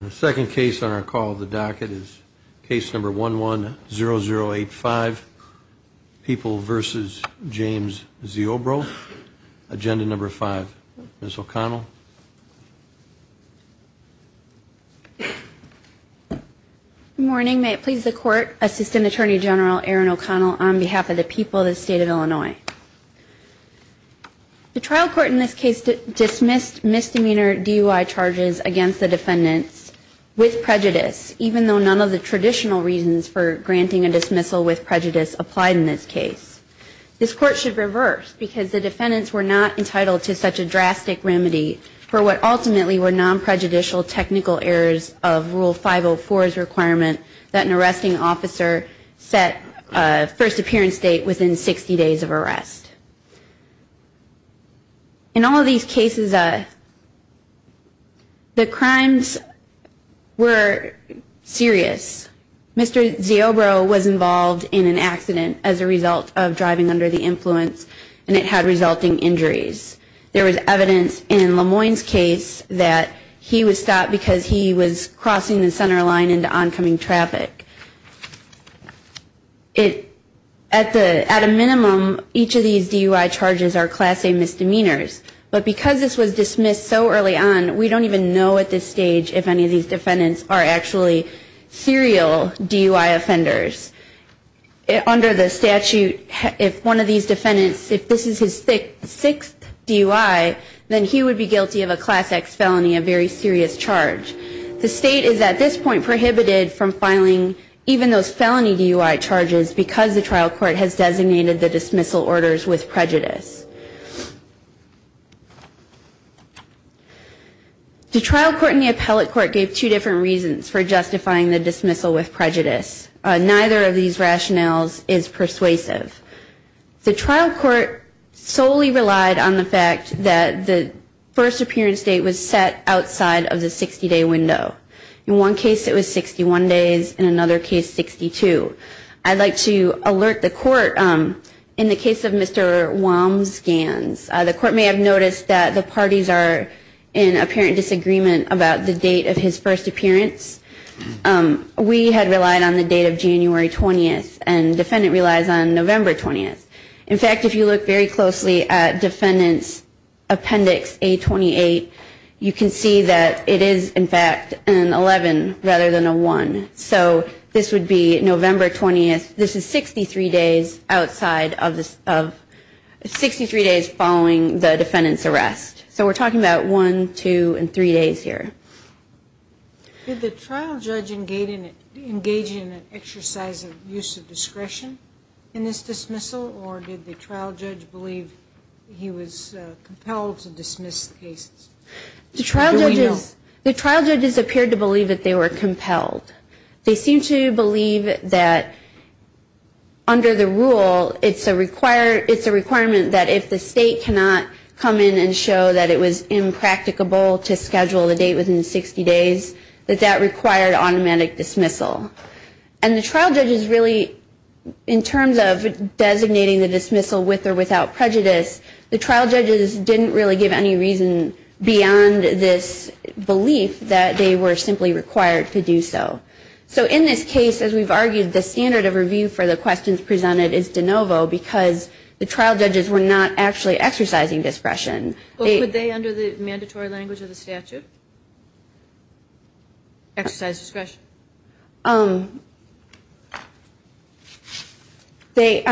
The second case on our call of the docket is case number 110085, People v. James Ziobro, agenda number 5. Ms. O'Connell. Good morning. May it please the Court, Assistant Attorney General Aaron O'Connell, on behalf of the people of the State of Illinois. The trial court in this case dismissed misdemeanor DUI charges against the defendants with prejudice, even though none of the traditional reasons for granting a dismissal with prejudice applied in this case. This Court should reverse, because the defendants were not entitled to such a drastic remedy for what ultimately were non-prejudicial technical errors of Rule 504's requirement that an arresting officer set a first appearance date within 60 days of arrest. In all of these cases, the crimes were serious. Mr. Ziobro was involved in an accident as a result of driving under the influence, and it had resulting injuries. There was evidence in Lemoyne's case that he was stopped because he was crossing the center line into oncoming traffic. At a minimum, each of these DUI charges are class A misdemeanors, but because this was dismissed so early on, we don't even know at this stage if any of these defendants are actually serial DUI offenders. Under the statute, if one of these defendants, if this is his sixth DUI, then he would be guilty of a class X felony, a very serious charge. The State is at this point prohibited from filing even those felony DUI charges because the trial court has designated the dismissal orders with prejudice. The trial court and the appellate court gave two different reasons for justifying the dismissal with prejudice. Neither of these rationales is persuasive. The trial court solely relied on the fact that the first appearance date was set outside of the 60-day window. In one case, it was 61 days. In another case, 62. I'd like to alert the court in the case of Mr. Walmsganz. The court may have noticed that the parties are in apparent disagreement about the date of his first appearance. We had relied on the date of January 20th, and the defendant relies on November 20th. In fact, if you look very closely at defendant's appendix A28, you can see that it is, in fact, an 11 rather than a 1. So this would be November 20th. This is 63 days following the defendant's arrest. So we're talking about 1, 2, and 3 days here. Did the trial judge engage in an exercise of use of discretion in this dismissal, or did the trial judge believe he was compelled to dismiss the case? Do we know? The trial judges appeared to believe that they were compelled. They seemed to believe that under the rule, it's a requirement that if the state cannot come in and show that it was impracticable to schedule a date within 60 days, that that required automatic dismissal. And the trial judges really, in terms of designating the dismissal with or without prejudice, the trial judges didn't really give any reason beyond this belief that they were simply required to do so. So in this case, as we've argued, the standard of review for the questions presented is de novo because the trial judges were not actually exercising discretion. Well, could they, under the mandatory language of the statute, exercise discretion? I'm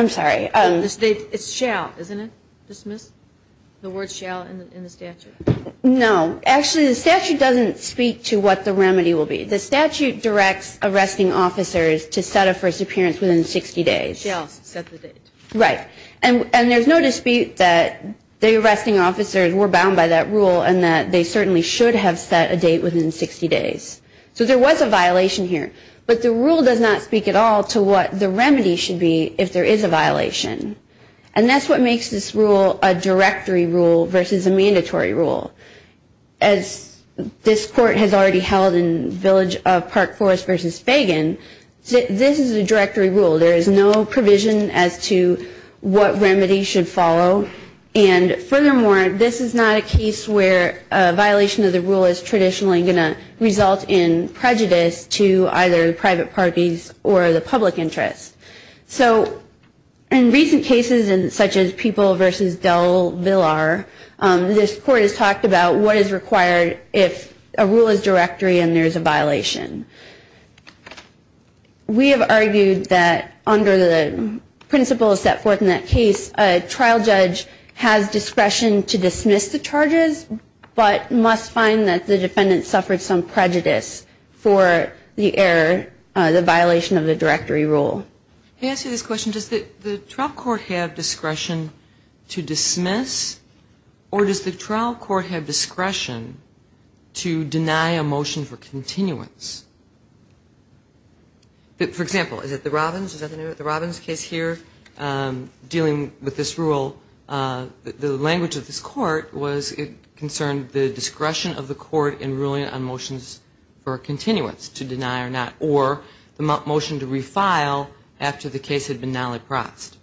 sorry. It's shall, isn't it? Dismiss? The word shall in the statute? No. Actually, the statute doesn't speak to what the remedy will be. The statute directs arresting officers to set a first appearance within 60 days. Shall set the date. Right. And there's no dispute that the arresting officers were bound by that rule and that they certainly should have set a date within 60 days. So there was a violation here. But the rule does not speak at all to what the remedy should be if there is a violation. And that's what makes this rule a directory rule versus a mandatory rule. As this court has already held in Village of Park Forest versus Fagan, this is a directory rule. There is no provision as to what remedy should follow. And furthermore, this is not a case where a violation of the rule is traditionally going to result in prejudice to either the private parties or the public interest. So in recent cases such as People versus Del Villar, this court has talked about what is required if a rule is directory and there is a violation. We have argued that under the principles set forth in that case, but must find that the defendant suffered some prejudice for the error, the violation of the directory rule. To answer this question, does the trial court have discretion to dismiss or does the trial court have discretion to deny a motion for continuance? For example, is it the Robbins? Is that the Robbins case here dealing with this rule? The language of this court was it concerned the discretion of the court in ruling on motions for continuance, to deny or not, or the motion to refile after the case had been non-laprox.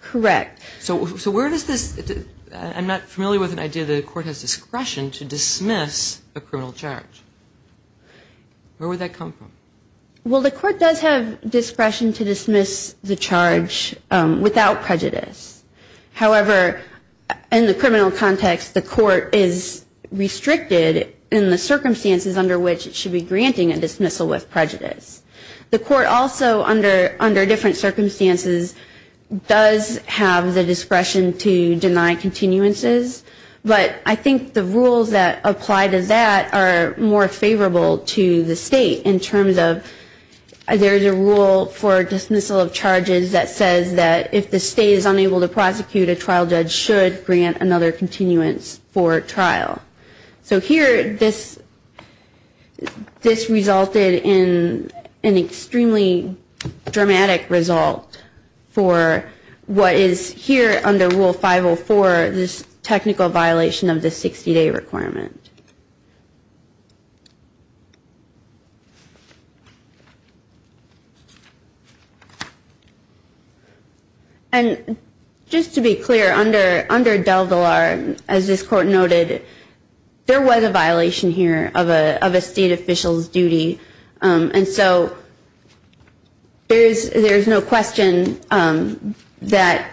Correct. So where does this – I'm not familiar with an idea that a court has discretion to dismiss a criminal charge. Where would that come from? Well, the court does have discretion to dismiss the charge without prejudice. However, in the criminal context, the court is restricted in the circumstances under which it should be granting a dismissal with prejudice. The court also, under different circumstances, does have the discretion to deny continuances, but I think the rules that apply to that are more favorable to the state in terms of there's a rule for dismissal of charges that says that if the state is unable to prosecute, a trial judge should grant another continuance for trial. So here, this resulted in an extremely dramatic result for what is here under Rule 504, this technical violation of the 60-day requirement. And just to be clear, under DelValar, as this court noted, there was a violation here of a state official's duty, and so there's no question that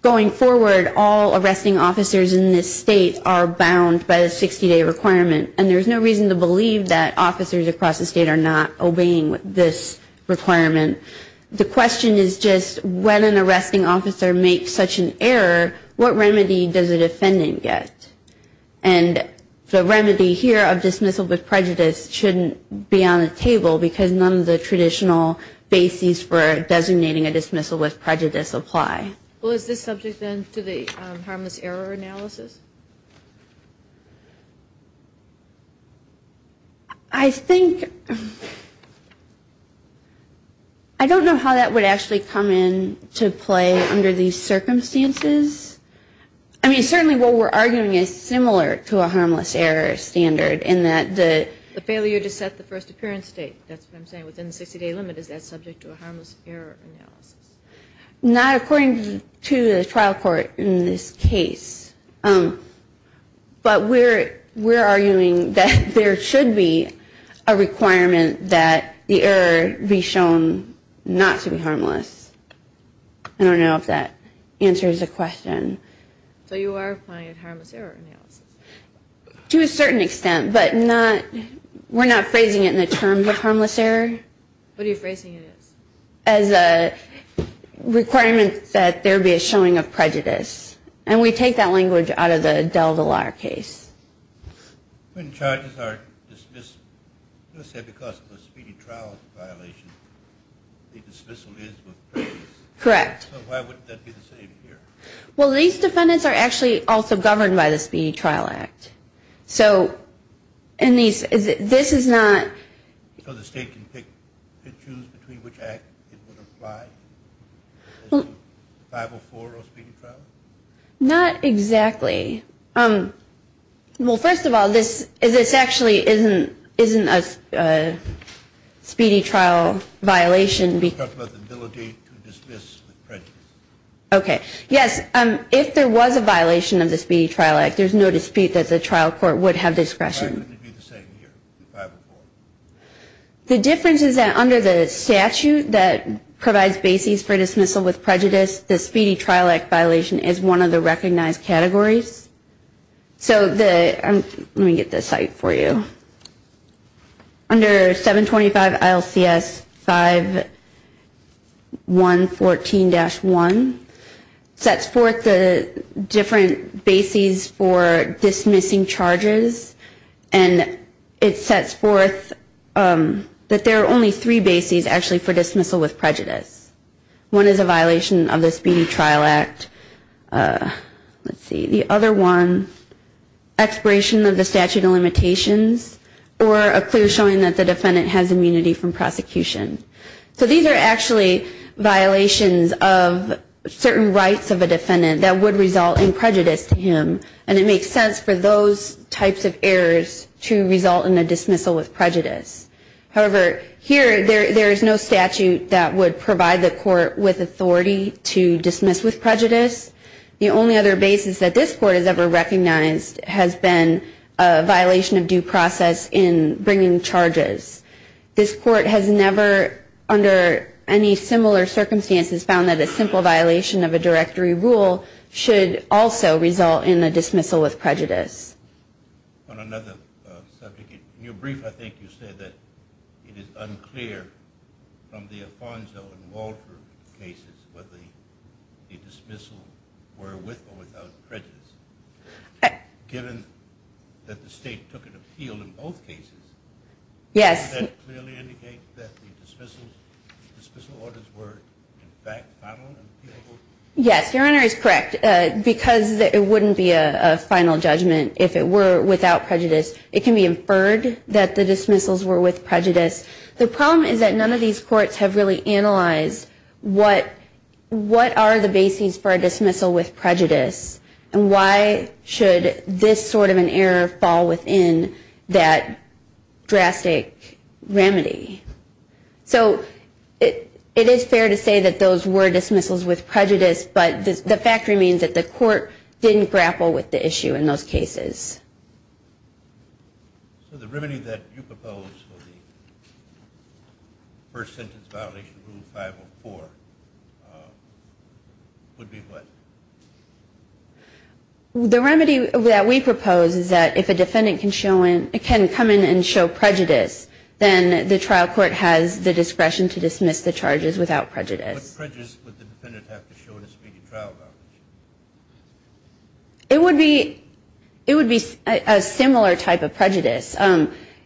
going forward, all arresting officers in this state are bound by the 60-day requirement, and there's no reason to believe that officers across the state are not obeying this requirement. The question is just when an arresting officer makes such an error, what remedy does a defendant get? And the remedy here of dismissal with prejudice shouldn't be on the table because none of the traditional bases for designating a dismissal with prejudice apply. Well, is this subject then to the harmless error analysis? I think – I don't know how that would actually come in to play under these circumstances. I mean, certainly what we're arguing is similar to a harmless error standard in that the – The failure to set the first appearance date, that's what I'm saying. Within the 60-day limit, is that subject to a harmless error analysis? Not according to the trial court in this case. But we're arguing that there should be a requirement that the error be shown not to be harmless. I don't know if that answers the question. So you are applying a harmless error analysis? To a certain extent, but not – we're not phrasing it in the terms of harmless error. What are you phrasing it as? As a requirement that there be a showing of prejudice. And we take that language out of the Del Villar case. When charges are dismissed, let's say because of a speedy trial violation, the dismissal is with prejudice. Correct. So why would that be the same here? Well, these defendants are actually also governed by the Speedy Trial Act. So in these – this is not – So the state can pick and choose between which act it would apply? 504 or Speedy Trial? Not exactly. Okay. Well, first of all, this actually isn't a speedy trial violation. You're talking about the ability to dismiss with prejudice. Okay. Yes, if there was a violation of the Speedy Trial Act, there's no dispute that the trial court would have discretion. Why would it be the same here, 504? The difference is that under the statute that provides basis for dismissal with prejudice, the Speedy Trial Act violation is one of the recognized categories. So the – let me get this cite for you. Under 725 ILCS 5114-1 sets forth the different bases for dismissing charges, and it sets forth that there are only three bases actually for dismissal with prejudice. One is a violation of the Speedy Trial Act. Let's see. The other one, expiration of the statute of limitations or a clear showing that the defendant has immunity from prosecution. So these are actually violations of certain rights of a defendant that would result in prejudice to him, and it makes sense for those types of errors to result in a dismissal with prejudice. However, here there is no statute that would provide the court with authority to dismiss with prejudice. The only other basis that this court has ever recognized has been a violation of due process in bringing charges. This court has never, under any similar circumstances, found that a simple violation of a directory rule should also result in a dismissal with prejudice. On another subject, in your brief I think you said that it is unclear from the Afonso and Walter cases whether the dismissal were with or without prejudice. Given that the state took an appeal in both cases, does that clearly indicate that the dismissal orders were in fact final and appealable? Yes, Your Honor is correct. Because it wouldn't be a final judgment if it were without prejudice, it can be inferred that the dismissals were with prejudice. The problem is that none of these courts have really analyzed what are the bases for a dismissal with prejudice and why should this sort of an error fall within that drastic remedy. So it is fair to say that those were dismissals with prejudice, but the fact remains that the court didn't grapple with the issue in those cases. So the remedy that you propose for the first sentence violation, Rule 504, would be what? The remedy that we propose is that if a defendant can come in and show prejudice, then the trial court has the discretion to dismiss the charges without prejudice. What prejudice would the defendant have to show in a speedy trial violation? It would be a similar type of prejudice.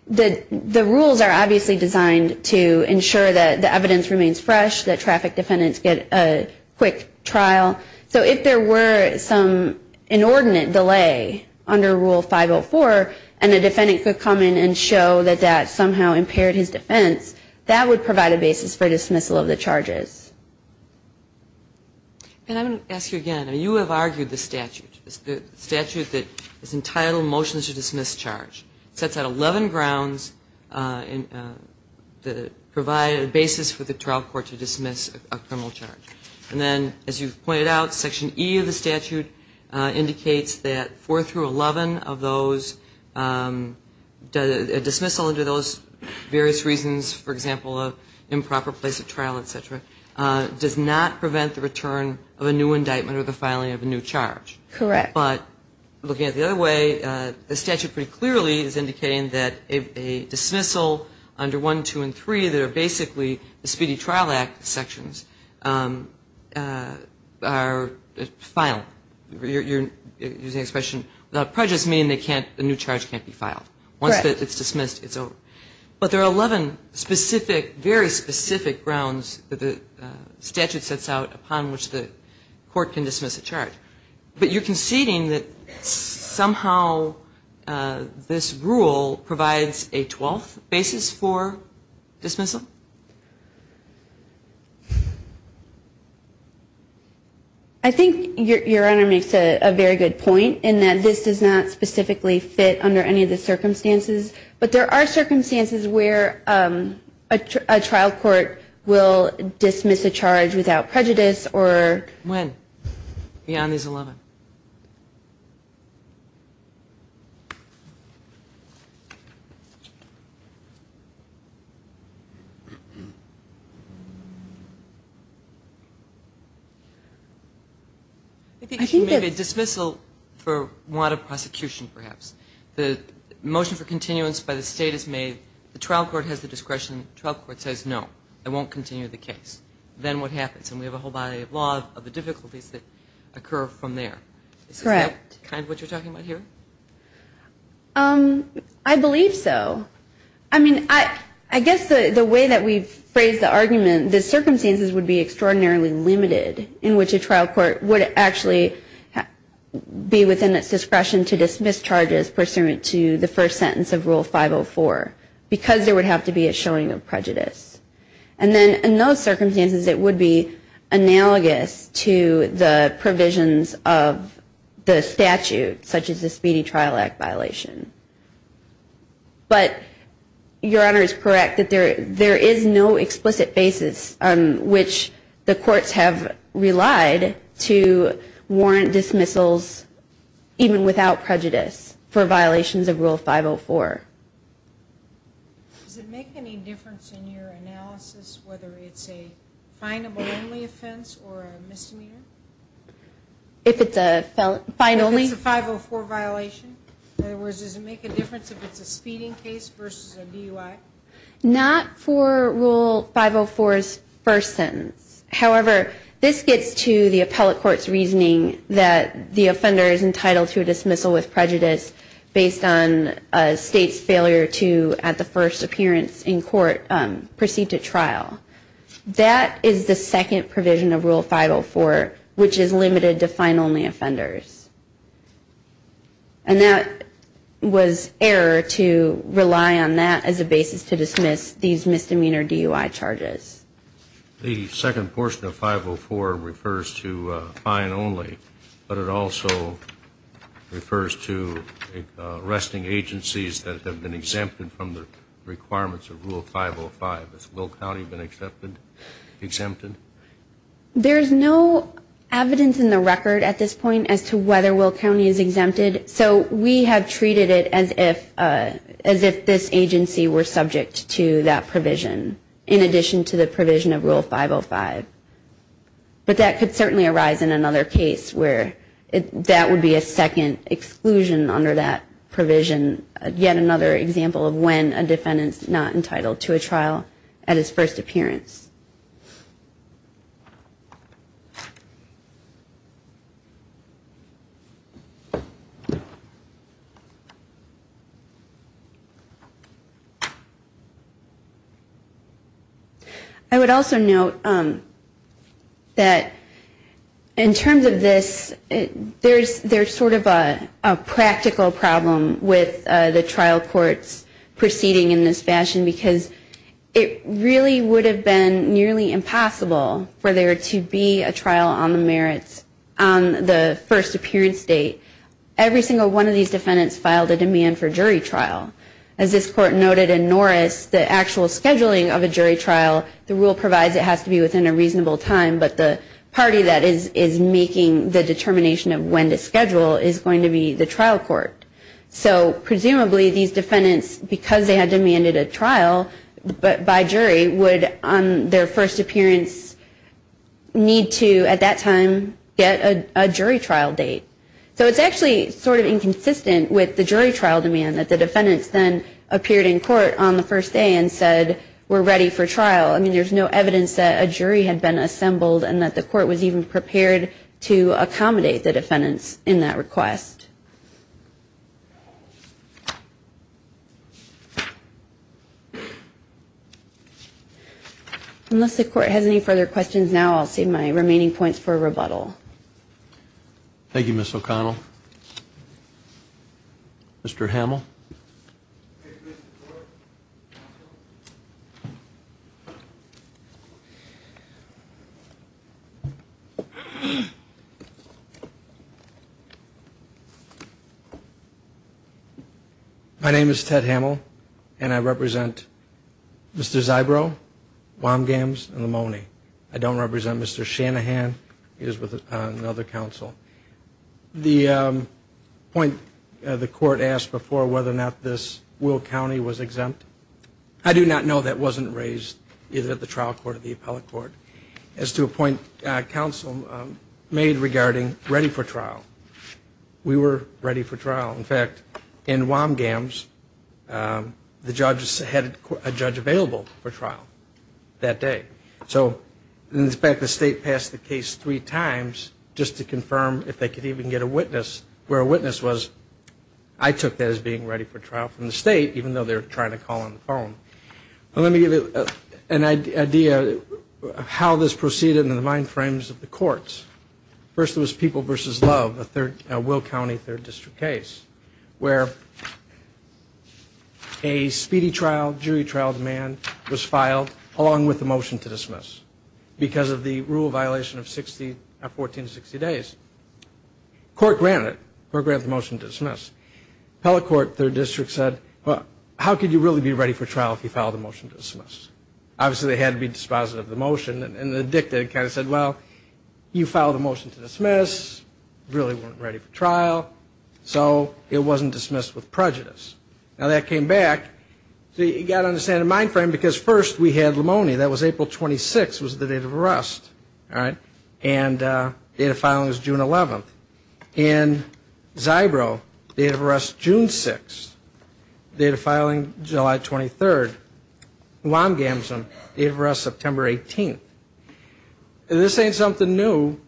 The rules are obviously designed to ensure that the evidence remains fresh, that traffic defendants get a quick trial. So if there were some inordinate delay under Rule 504 and a defendant could come in and show that that somehow impaired his defense, that would provide a basis for dismissal of the charges. And I'm going to ask you again. You have argued the statute, the statute that is entitled Motions to Dismiss Charge. It sets out 11 grounds that provide a basis for the trial court to dismiss a criminal charge. And then, as you've pointed out, Section E of the statute indicates that 4 through 11 of those, a dismissal under those various reasons, for example, an improper place of trial, et cetera, does not prevent the return of a new indictment or the filing of a new charge. Correct. But looking at it the other way, the statute pretty clearly is indicating that a dismissal under 1, 2, and 3, that are basically the Speedy Trial Act sections, are final. You're using the expression without prejudice meaning the new charge can't be filed. Once it's dismissed, it's over. But there are 11 very specific grounds that the statute sets out upon which the court can dismiss a charge. But you're conceding that somehow this rule provides a 12th basis for dismissal? I think Your Honor makes a very good point in that this does not specifically fit under any of the circumstances. But there are circumstances where a trial court will dismiss a charge without prejudice or When? Beyond these 11. I think if you make a dismissal for want of prosecution perhaps, the motion for continuance by the state is made, the trial court has the discretion, the trial court says no, it won't continue the case. Then what happens? And we have a whole body of law of the difficulties that occur from there. Is that kind of what you're talking about here? I believe so. I mean, I guess the way that we've phrased the argument, the circumstances would be extraordinarily limited in which a trial court would actually be within its discretion to dismiss charges pursuant to the first sentence of Rule 504 because there would have to be a showing of prejudice. And then in those circumstances it would be analogous to the provisions of the statute, such as the Speedy Trial Act violation. But Your Honor is correct that there is no explicit basis on which the courts have relied to warrant dismissals even without prejudice for violations of Rule 504. Does it make any difference in your analysis whether it's a fineable only offense or a misdemeanor? If it's a fine only? If it's a 504 violation? In other words, does it make a difference if it's a speeding case versus a DUI? Not for Rule 504's first sentence. However, this gets to the appellate court's reasoning that the offender is entitled to a dismissal with prejudice based on a state's failure to, at the first appearance in court, proceed to trial. That is the second provision of Rule 504, which is limited to fine only offenders. And that was error to rely on that as a basis to dismiss these misdemeanor DUI charges. The second portion of 504 refers to fine only, but it also refers to arresting agencies that have been exempted from the requirements of Rule 505. Has Will County been exempted? There's no evidence in the record at this point as to whether Will County is exempted. So we have treated it as if this agency were subject to that provision, in addition to the provision of Rule 505. But that could certainly arise in another case where that would be a second exclusion under that provision, yet another example of when a defendant is not entitled to a trial at his first appearance. I would also note that in terms of this, there's sort of a practical problem with the trial courts proceeding in this fashion, because it really would have been a case where the defendant would have been exempted and it would have been nearly impossible for there to be a trial on the merits on the first appearance date. Every single one of these defendants filed a demand for jury trial. As this court noted in Norris, the actual scheduling of a jury trial, the rule provides it has to be within a reasonable time, but the party that is making the determination of when to schedule is going to be the trial court. So presumably these defendants, because they had demanded a trial by jury, would on their first appearance need to, at that time, get a jury trial date. So it's actually sort of inconsistent with the jury trial demand that the defendants then appeared in court on the first day and said, we're ready for trial. I mean, there's no evidence that a jury had been assembled and that the court was even prepared to accommodate the defendants in that request. Unless the court has any further questions now, I'll save my remaining points for rebuttal. Thank you, Ms. O'Connell. Mr. Hamill? My name is Ted Hamill, and I represent Mr. Zybrow, Womgams, and Lamoni. I don't represent Mr. Shanahan. He is with another counsel. The point the court asked before whether or not this Will County was exempt, I do not know that wasn't raised either at the trial court or the appellate court. As to a point counsel made regarding ready for trial, we were ready for trial. In fact, in Womgams, the judges had a judge available for trial that day. So in fact, the state passed the case three times just to confirm if they could even get a witness, where a witness was, I took that as being ready for trial from the state, even though they were trying to call on the phone. Let me give you an idea of how this proceeded in the mind frames of the courts. First it was People v. Love, a Will County third district case, where a speedy trial, jury trial demand was filed along with the motion to dismiss because of the rule violation of 1460 days. Court granted it. Court granted the motion to dismiss. Appellate court third district said, well, how could you really be ready for trial if you filed a motion to dismiss? Obviously, they had to be dispositive of the motion. And the dicta kind of said, well, you filed a motion to dismiss, really weren't ready for trial. So it wasn't dismissed with prejudice. Now that came back. So you've got to understand the mind frame because first we had Lamoni. That was April 26th was the date of arrest. And the date of filing was June 11th. And Zybro, date of arrest June 6th. Date of filing July 23rd. Lamgamson, date of arrest September 18th. This ain't something new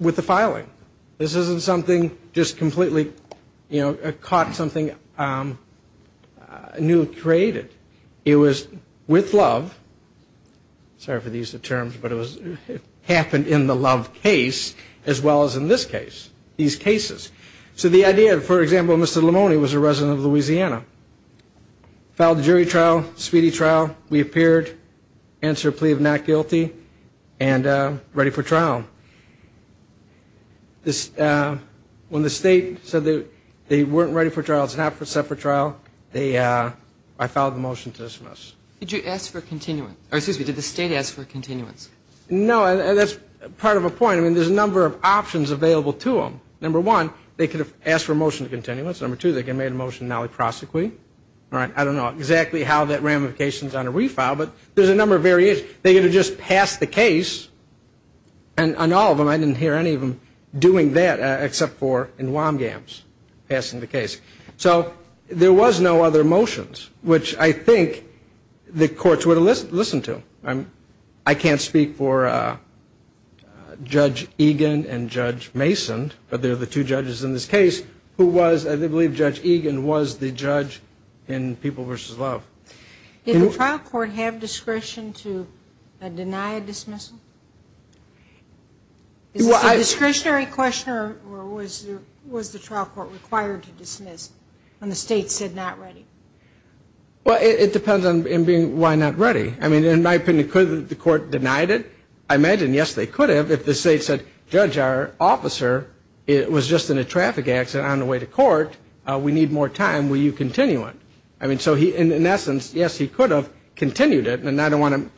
with the filing. This isn't something just completely, you know, caught something new created. It was with Love. Sorry for the use of terms, but it happened in the Love case as well as in this case, these cases. So the idea, for example, Mr. Lamoni was a resident of Louisiana. Filed a jury trial, speedy trial. We appeared, answered a plea of not guilty, and ready for trial. When the state said they weren't ready for trial, it's not set for trial, I filed the motion to dismiss. Did you ask for continuance? Or excuse me, did the state ask for continuance? No, and that's part of the point. I mean, there's a number of options available to them. Number one, they could have asked for a motion to continuance. Number two, they could have made a motion nalli prosecui. I don't know exactly how that ramifications on a refile, but there's a number of variations. They could have just passed the case. And on all of them, I didn't hear any of them doing that except for in Wamgams passing the case. So there was no other motions, which I think the courts would have listened to. I can't speak for Judge Egan and Judge Mason, but they're the two judges in this case, who was, I believe, Judge Egan was the judge in People v. Love. Did the trial court have discretion to deny a dismissal? Is this a discretionary question, or was the trial court required to dismiss when the state said not ready? Well, it depends on why not ready. I mean, in my opinion, could the court have denied it? I imagine, yes, they could have. If the state said, Judge, our officer was just in a traffic accident on the way to court. We need more time. Will you continue it? I mean, so in essence, yes, he could have continued it, and I don't want to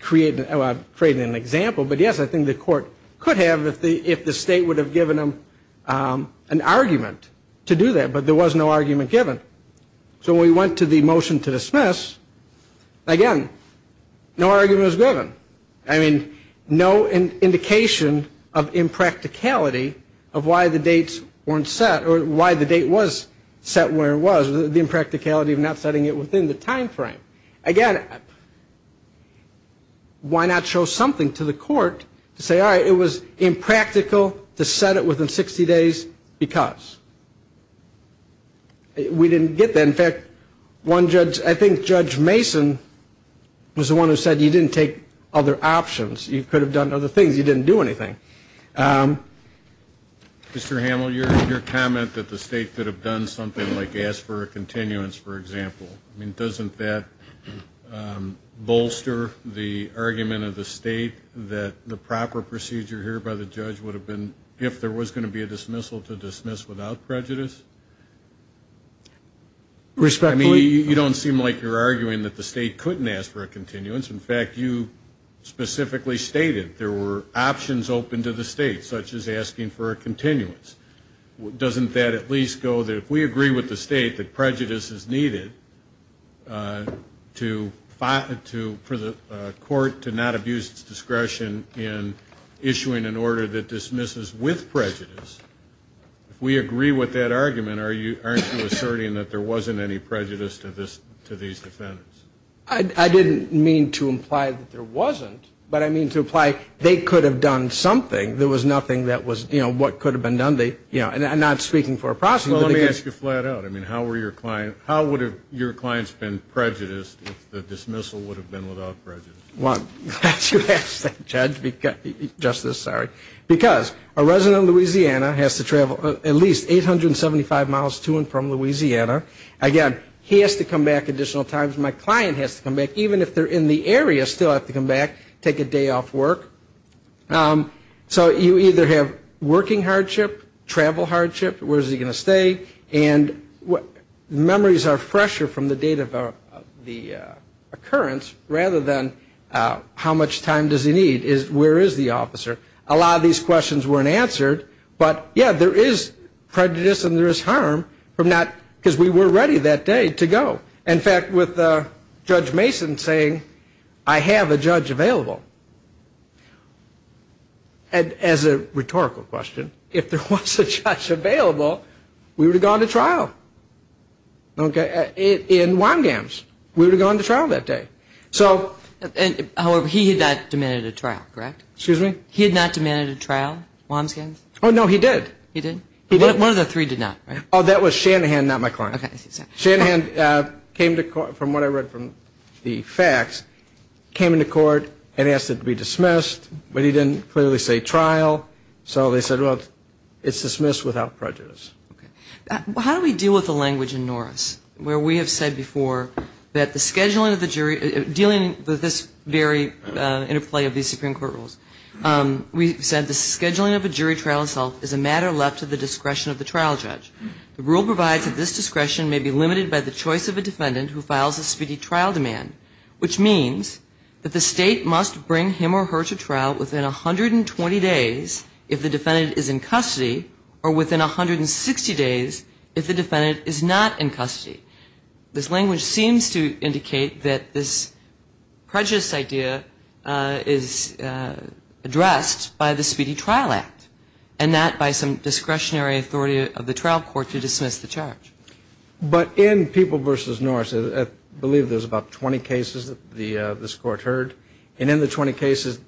create an example, but, yes, I think the court could have if the state would have given him an argument to do that. But there was no argument given. So when we went to the motion to dismiss, again, no argument was given. I mean, no indication of impracticality of why the dates weren't set or why the date was set where it was, the impracticality of not setting it within the time frame. Again, why not show something to the court to say, all right, it was impractical to set it within 60 days because? We didn't get that. In fact, one judge, I think Judge Mason was the one who said you didn't take other options. You could have done other things. You didn't do anything. Mr. Hamill, your comment that the state could have done something like ask for a continuance, for example, I mean, doesn't that bolster the argument of the state that the proper procedure here by the judge would have been if there was going to be a dismissal to dismiss without prejudice? I mean, you don't seem like you're arguing that the state couldn't ask for a continuance. In fact, you specifically stated there were options open to the state, such as asking for a continuance. Doesn't that at least go that if we agree with the state that prejudice is needed for the court to not abuse its discretion in issuing an order that dismisses with prejudice, if we agree with that argument, aren't you asserting that there wasn't any prejudice to these defendants? I didn't mean to imply that there wasn't. But I mean to imply they could have done something. There was nothing that was, you know, what could have been done. They, you know, and I'm not speaking for a prosecutor. Well, let me ask you flat out. I mean, how were your client, how would have your clients been prejudiced if the dismissal would have been without prejudice? Well, glad you asked that, Judge. Justice, sorry. Because a resident of Louisiana has to travel at least 875 miles to and from Louisiana. Again, he has to come back additional times. My client has to come back. Even if they're in the area, still have to come back, take a day off work. So you either have working hardship, travel hardship, where is he going to stay, and memories are fresher from the date of the occurrence rather than how much time does he need. Where is the officer? A lot of these questions weren't answered. But, yeah, there is prejudice and there is harm from not, because we were ready that day to go. In fact, with Judge Mason saying, I have a judge available. As a rhetorical question, if there was a judge available, we would have gone to trial. Okay. In WAMGAMS. We would have gone to trial that day. So. However, he had not demanded a trial, correct? Excuse me? He had not demanded a trial, WAMGAMS? Oh, no, he did. He did? One of the three did not, right? Oh, that was Shanahan, not my client. Okay. Shanahan came to court, from what I read from the facts, came into court and asked it to be dismissed. But he didn't clearly say trial. So they said, well, it's dismissed without prejudice. Okay. How do we deal with the language in Norris where we have said before that the scheduling of the jury, dealing with this very interplay of these Supreme Court rules, we said the scheduling of a jury trial itself is a matter left to the discretion of the trial judge. The rule provides that this discretion may be limited by the choice of a defendant who files a speedy trial demand, which means that the State must bring him or her to trial within 120 days if the defendant is in custody, or within 160 days if the defendant is not in custody. This language seems to indicate that this prejudice idea is addressed by the Speedy Trial Act and not by some discretionary authority of the trial court to dismiss the charge. But in People v. Norris, I believe there's about 20 cases that this Court heard, and in the 20 cases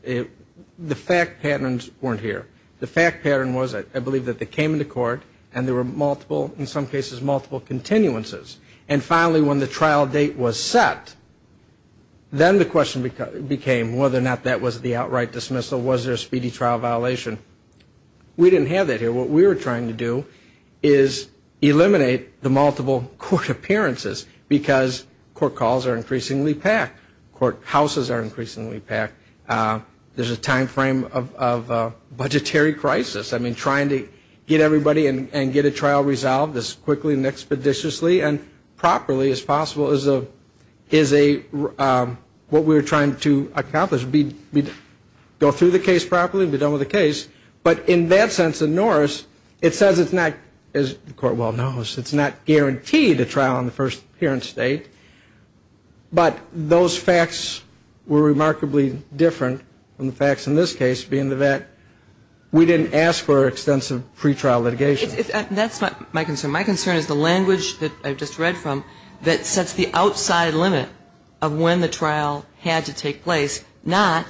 the fact patterns weren't here. The fact pattern was, I believe, that they came into court and there were multiple, in some cases multiple, continuances. And finally, when the trial date was set, then the question became whether or not that was the outright dismissal, was there a speedy trial violation. We didn't have that here. What we were trying to do is eliminate the multiple court appearances because court calls are increasingly packed. Court houses are increasingly packed. There's a time frame of a budgetary crisis. I mean, trying to get everybody and get a trial resolved as quickly and expeditiously and properly as possible is what we were trying to accomplish. Go through the case properly and be done with the case. But in that sense of Norris, it says it's not, as the Court well knows, it's not guaranteed a trial on the first appearance date. But those facts were remarkably different from the facts in this case being that we didn't ask for extensive pretrial litigation. That's not my concern. My concern is the language that I just read from that sets the outside limit of when the trial had to take place, not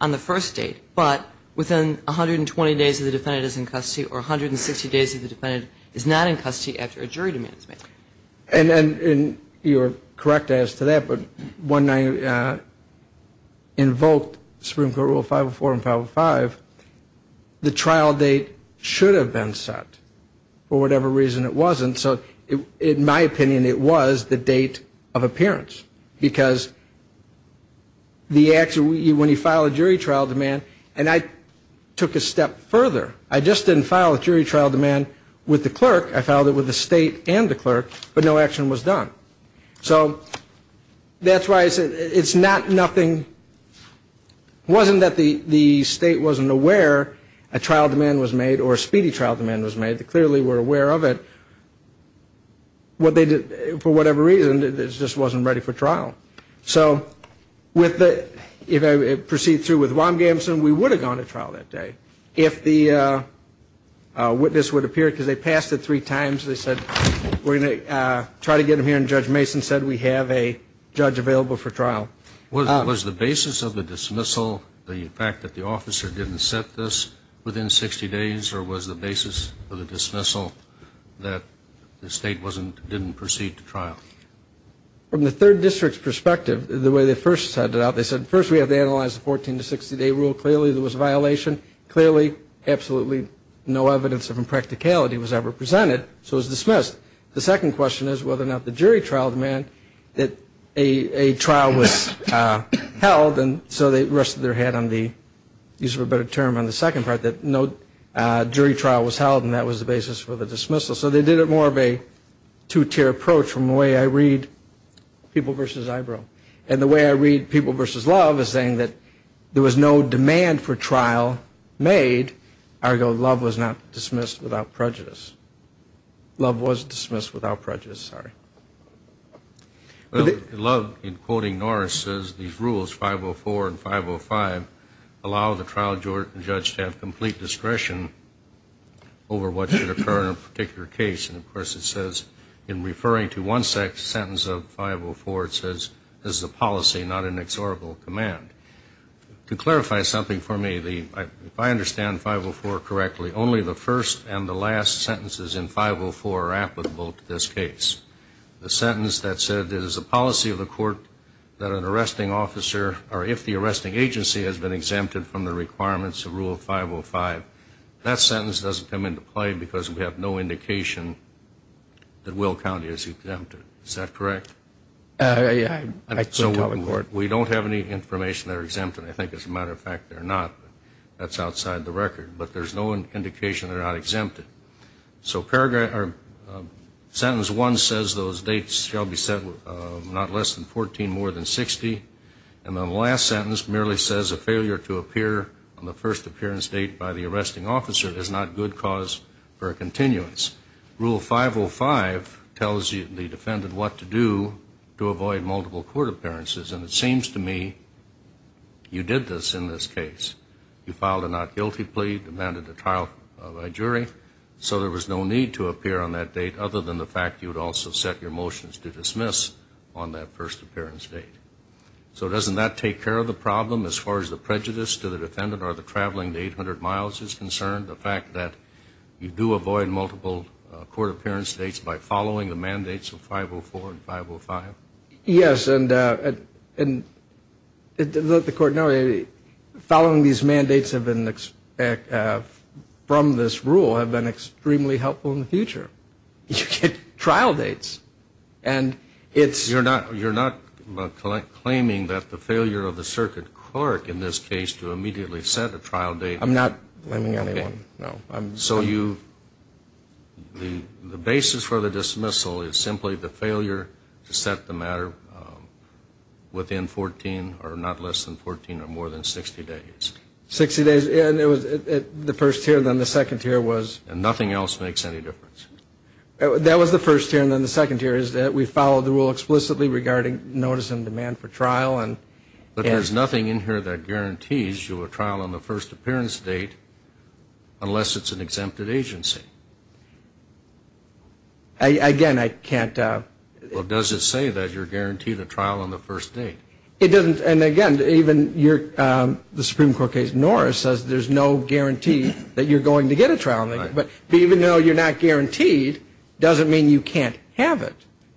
on the first date, but within 120 days of the defendant is in custody or 160 days of the defendant is not in custody after a jury demand is made. And you're correct as to that, but when I invoked Supreme Court Rule 504 and 505, the trial date should have been set for whatever reason it wasn't. So in my opinion, it was the date of appearance because when you file a jury trial demand, and I took it a step further. I just didn't file a jury trial demand with the clerk. I filed it with the state and the clerk, but no action was done. So that's why I said it's not nothing. It wasn't that the state wasn't aware a trial demand was made or a speedy trial demand was made. They clearly were aware of it. What they did, for whatever reason, it just wasn't ready for trial. So if I proceed through with Wam-Gamson, we would have gone to trial that day. If the witness would appear, because they passed it three times, they said we're going to try to get him here and Judge Mason said we have a judge available for trial. Was the basis of the dismissal the fact that the officer didn't set this within 60 days or was the basis of the dismissal that the state didn't proceed to trial? From the third district's perspective, the way they first set it up, they said, first we have to analyze the 14- to 60-day rule. Clearly there was a violation. Clearly, absolutely no evidence of impracticality was ever presented, so it was dismissed. The second question is whether or not the jury trial demand that a trial was held, and so they rested their head on the use of a better term on the second part, that no jury trial was held and that was the basis for the dismissal. So they did it more of a two-tier approach from the way I read people versus eyebrow. And the way I read people versus love is saying that there was no demand for trial made, ergo love was not dismissed without prejudice. Love was dismissed without prejudice, sorry. Love, in quoting Norris, says these rules, 504 and 505, allow the trial judge to have complete discretion over what should occur in a particular case. And, of course, it says in referring to one sentence of 504, it says, this is a policy, not an exhortable command. To clarify something for me, if I understand 504 correctly, only the first and the last sentences in 504 are applicable to this case. The sentence that said it is a policy of the court that an arresting officer, or if the arresting agency has been exempted from the requirements of Rule 505, that sentence doesn't come into play because we have no indication that Will County is exempted. Is that correct? I couldn't tell the court. We don't have any information they're exempted. I think, as a matter of fact, they're not. That's outside the record. But there's no indication they're not exempted. So paragraph or sentence one says those dates shall be set not less than 14, more than 60. And then the last sentence merely says a failure to appear on the first appearance date by the arresting officer is not good cause for a continuance. Rule 505 tells the defendant what to do to avoid multiple court appearances. And it seems to me you did this in this case. You filed a not guilty plea, demanded a trial by jury, so there was no need to appear on that date other than the fact you would also set your motions to dismiss on that first appearance date. So doesn't that take care of the problem as far as the prejudice to the defendant or the traveling to 800 miles is concerned, the fact that you do avoid multiple court appearance dates by following the mandates of 504 and 505? Yes, and let the court know, following these mandates from this rule have been extremely helpful in the future. You get trial dates. You're not claiming that the failure of the circuit clerk in this case to immediately set a trial date. I'm not blaming anyone, no. So the basis for the dismissal is simply the failure to set the matter within 14, or not less than 14, or more than 60 days. 60 days, and it was the first year, then the second year was. And nothing else makes any difference. That was the first year, and then the second year is that we followed the rule explicitly regarding notice and demand for trial. But there's nothing in here that guarantees you a trial on the first appearance date unless it's an exempted agency. Again, I can't. Well, does it say that you're guaranteed a trial on the first date? It doesn't. And, again, even the Supreme Court case Norris says there's no guarantee that you're going to get a trial. But even though you're not guaranteed, it doesn't mean you can't have it.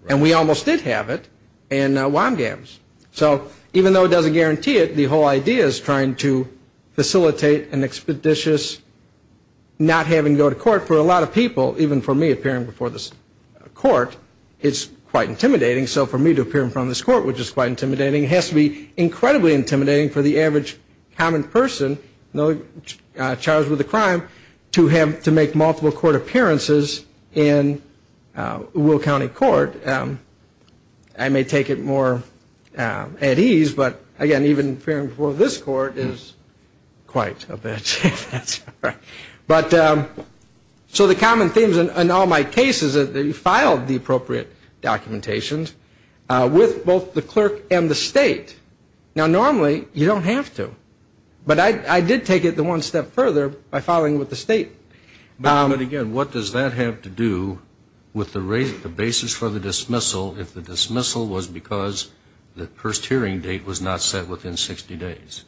And we almost did have it in WAMGAMS. So even though it doesn't guarantee it, the whole idea is trying to facilitate an expeditious not having to go to court. For a lot of people, even for me appearing before this court, it's quite intimidating. So for me to appear in front of this court, which is quite intimidating, has to be incredibly intimidating for the average common person charged with a crime to make multiple court appearances in Will County Court. I may take it more at ease, but, again, even appearing before this court is quite a bit. So the common themes in all my cases is that you filed the appropriate documentation with both the clerk and the state. Now, normally, you don't have to. But I did take it one step further by filing with the state. But, again, what does that have to do with the basis for the dismissal if the dismissal was because the first hearing date was not set within 60 days?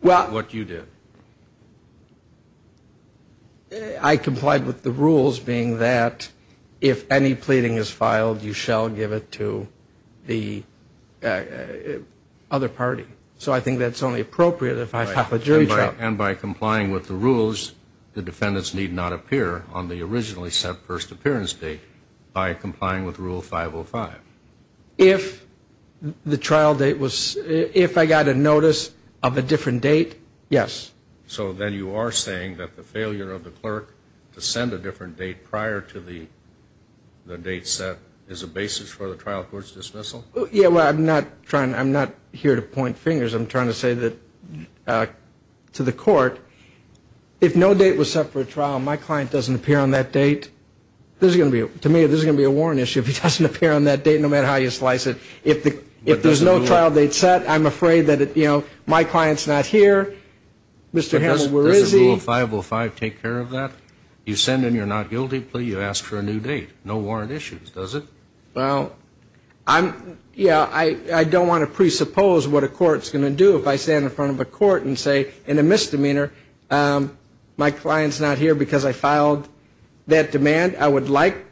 What you did. I complied with the rules being that if any pleading is filed, you shall give it to the other party. So I think that's only appropriate if I file a jury trial. And by complying with the rules, the defendants need not appear on the originally set first appearance date by complying with Rule 505. If the trial date was – if I got a notice of a different date, yes. So then you are saying that the failure of the clerk to send a different date prior to the date set is a basis for the trial court's dismissal? Yeah, well, I'm not trying – I'm not here to point fingers. I'm trying to say that to the court, if no date was set for a trial, my client doesn't appear on that date. There's going to be – to me, there's going to be a warrant issue if he doesn't appear on that date, no matter how you slice it. If there's no trial date set, I'm afraid that, you know, my client's not here. Mr. Hamill, where is he? Does Rule 505 take care of that? You send in your not guilty plea, you ask for a new date. No warrant issues, does it? Well, I'm – yeah, I don't want to presuppose what a court's going to do if I stand in front of a court and say, in a misdemeanor, my client's not here because I filed that demand. I would like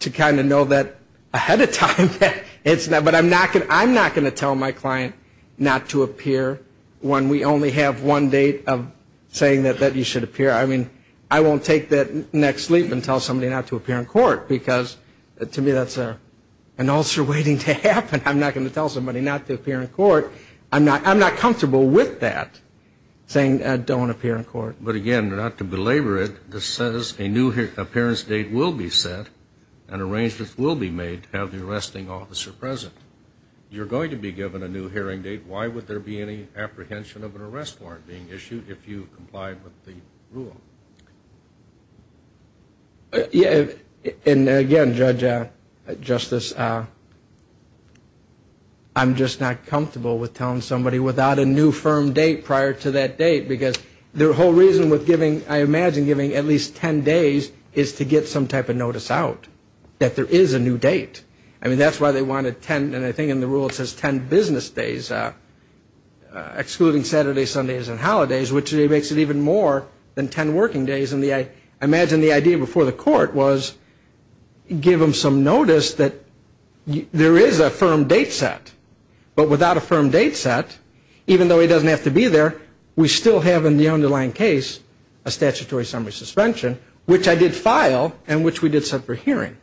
to kind of know that ahead of time. But I'm not going to tell my client not to appear when we only have one date of saying that you should appear. I mean, I won't take that next leap and tell somebody not to appear in court because, to me, that's an ulcer waiting to happen. I'm not going to tell somebody not to appear in court. I'm not comfortable with that, saying don't appear in court. But, again, not to belabor it, this says a new appearance date will be set and arrangements will be made to have the arresting officer present. You're going to be given a new hearing date. Why would there be any apprehension of an arrest warrant being issued if you complied with the rule? And, again, Judge Justice, I'm just not comfortable with telling somebody without a new firm date prior to that date because their whole reason with giving, I imagine, giving at least 10 days is to get some type of notice out, that there is a new date. I mean, that's why they wanted 10, and I think in the rule it says 10 business days, excluding Saturdays, Sundays and holidays, which makes it even more than 10 working days. I imagine the idea before the court was give him some notice that there is a firm date set. But without a firm date set, even though he doesn't have to be there, we still have in the underlying case a statutory summary suspension, which I did file and which we did set for hearing.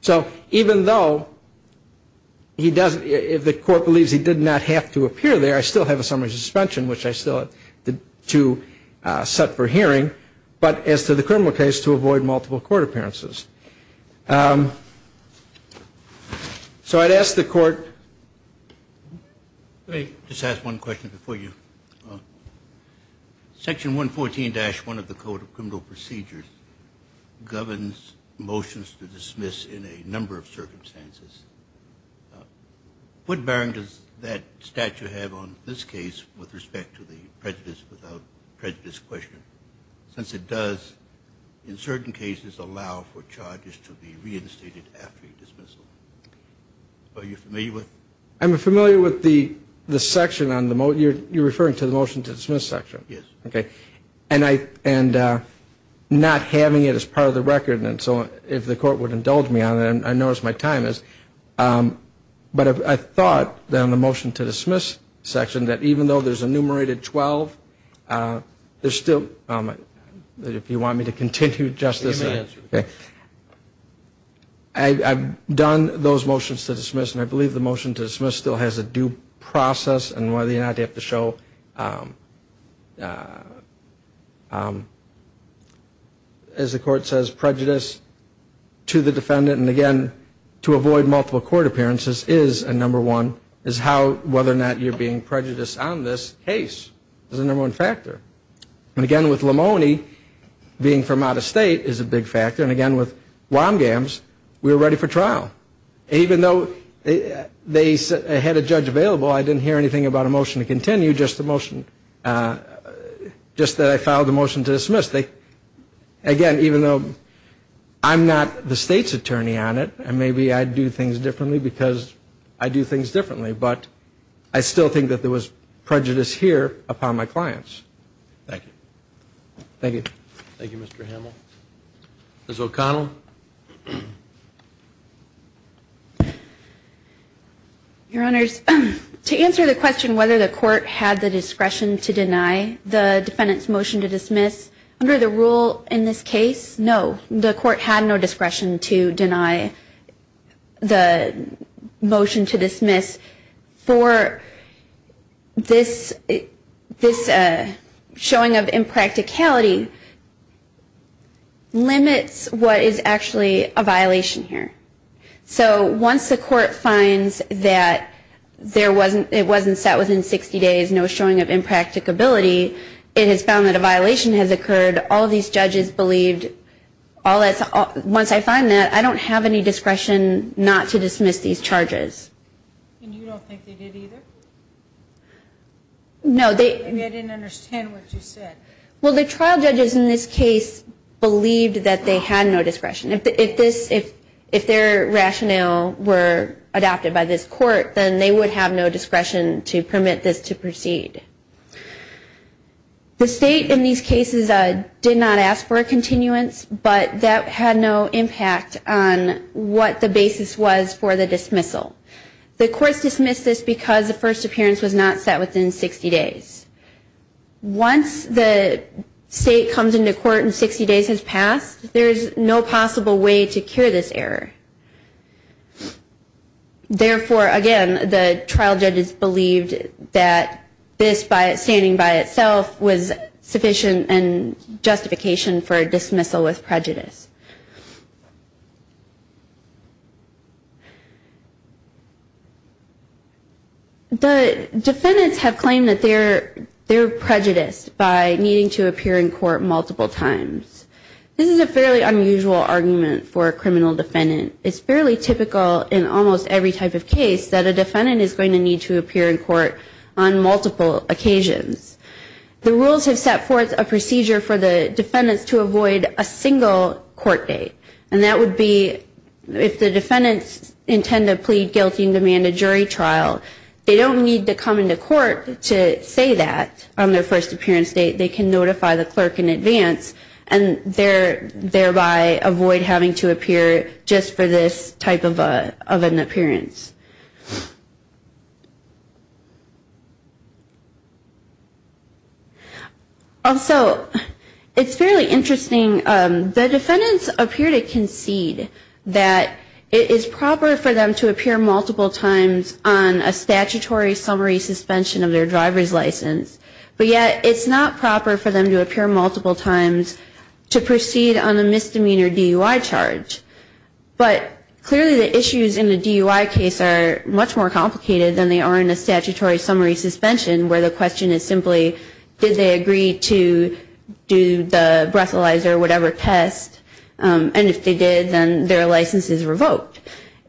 So even though he doesn't, if the court believes he did not have to appear there, I still have a summary suspension, which I still had to set for hearing, but as to the criminal case, to avoid multiple court appearances. So I'd ask the court. Let me just ask one question before you. Section 114-1 of the Code of Criminal Procedures governs motions to dismiss in a number of circumstances. What bearing does that statute have on this case with respect to the prejudice without prejudice question? Since it does, in certain cases, allow for charges to be reinstated after a dismissal. Are you familiar with it? I'm familiar with the section on the motion. You're referring to the motion to dismiss section. Yes. Okay. And not having it as part of the record. And so if the court would indulge me on it, I notice my time is. But I thought that on the motion to dismiss section that even though there's enumerated 12, there's still, if you want me to continue justice. You may. Okay. I've done those motions to dismiss, and I believe the motion to dismiss still has a due process and whether or not you have to show, as the court says, prejudice to the defendant. And, again, to avoid multiple court appearances is a number one, is how whether or not you're being prejudiced on this case is a number one factor. And, again, with Lamoni, being from out of state is a big factor. And, again, with Womgams, we were ready for trial. Even though they had a judge available, I didn't hear anything about a motion to continue, just that I filed a motion to dismiss. Again, even though I'm not the state's attorney on it, and maybe I do things differently because I do things differently, but I still think that there was prejudice here upon my clients. Thank you. Thank you. Thank you, Mr. Hamel. Ms. O'Connell. Your Honors, to answer the question whether the court had the discretion to deny the defendant's motion to dismiss, under the rule in this case, no, the court had no discretion to deny the motion to dismiss. For this showing of impracticality limits what is actually a violation here. So once the court finds that it wasn't set within 60 days, no showing of impracticability, it has found that a violation has occurred. All these judges believed, once I find that, I don't have any discretion not to dismiss these charges. And you don't think they did either? No. Maybe I didn't understand what you said. Well, the trial judges in this case believed that they had no discretion. If their rationale were adopted by this court, then they would have no discretion to permit this to proceed. The state in these cases did not ask for a continuance, but that had no impact on what the basis was for the dismissal. The courts dismissed this because the first appearance was not set within 60 days. Once the state comes into court and 60 days has passed, there is no possible way to cure this error. Therefore, again, the trial judges believed that this standing by itself was sufficient and justification for a dismissal with prejudice. The defendants have claimed that they were prejudiced by needing to appear in court multiple times. This is a fairly unusual argument for a criminal defendant. It's fairly typical in almost every type of case that a defendant is going to need to appear in court on multiple occasions. The rules have set forth a procedure for the defendants to avoid a single court date, and that would be if the defendants intend to plead guilty and demand a jury trial, they don't need to come into court to say that on their first appearance date. They can notify the clerk in advance and thereby avoid having to appear just for this type of an appearance. Also, it's fairly interesting. The defendants appear to concede that it is proper for them to appear multiple times on a statutory summary suspension of their driver's license, but yet it's not proper for them to appear multiple times to proceed on a misdemeanor DUI charge. But clearly the issues in a DUI case are much more complicated than they are in a statutory summary suspension, where the question is simply, did they agree to do the breathalyzer, whatever test, and if they did, then their license is revoked.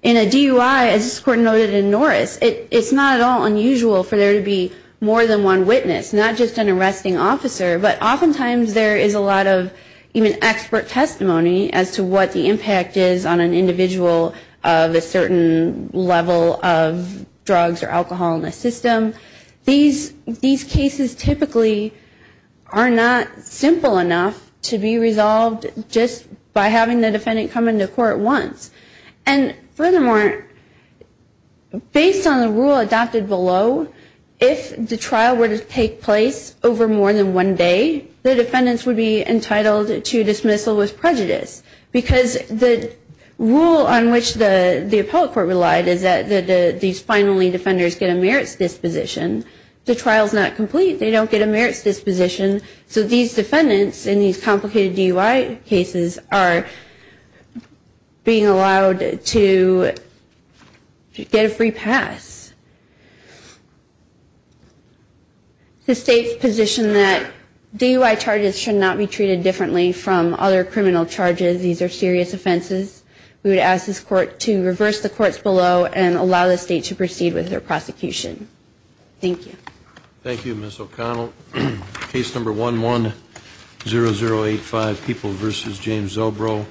In a DUI, as this Court noted in Norris, it's not at all unusual for there to be more than one witness, not just an arresting officer, but oftentimes there is a lot of even expert testimony as to what the impact is on an individual of a certain level of drugs or alcohol in the system. These cases typically are not simple enough to be resolved just by having the defendant come into court once. And furthermore, based on the rule adopted below, if the trial were to take place over more than one day, the defendants would be entitled to dismissal with prejudice, because the rule on which the appellate court relied is that these finally defenders get a merits disposition. The trial is not complete. They don't get a merits disposition. So these defendants in these complicated DUI cases are being allowed to get a free pass. The State's position that DUI charges should not be treated differently from other criminal charges, these are serious offenses, we would ask this Court to reverse the courts below and allow the State to proceed with their prosecution. Thank you. Thank you, Ms. O'Connell. Case number 110085, People v. James Zobro.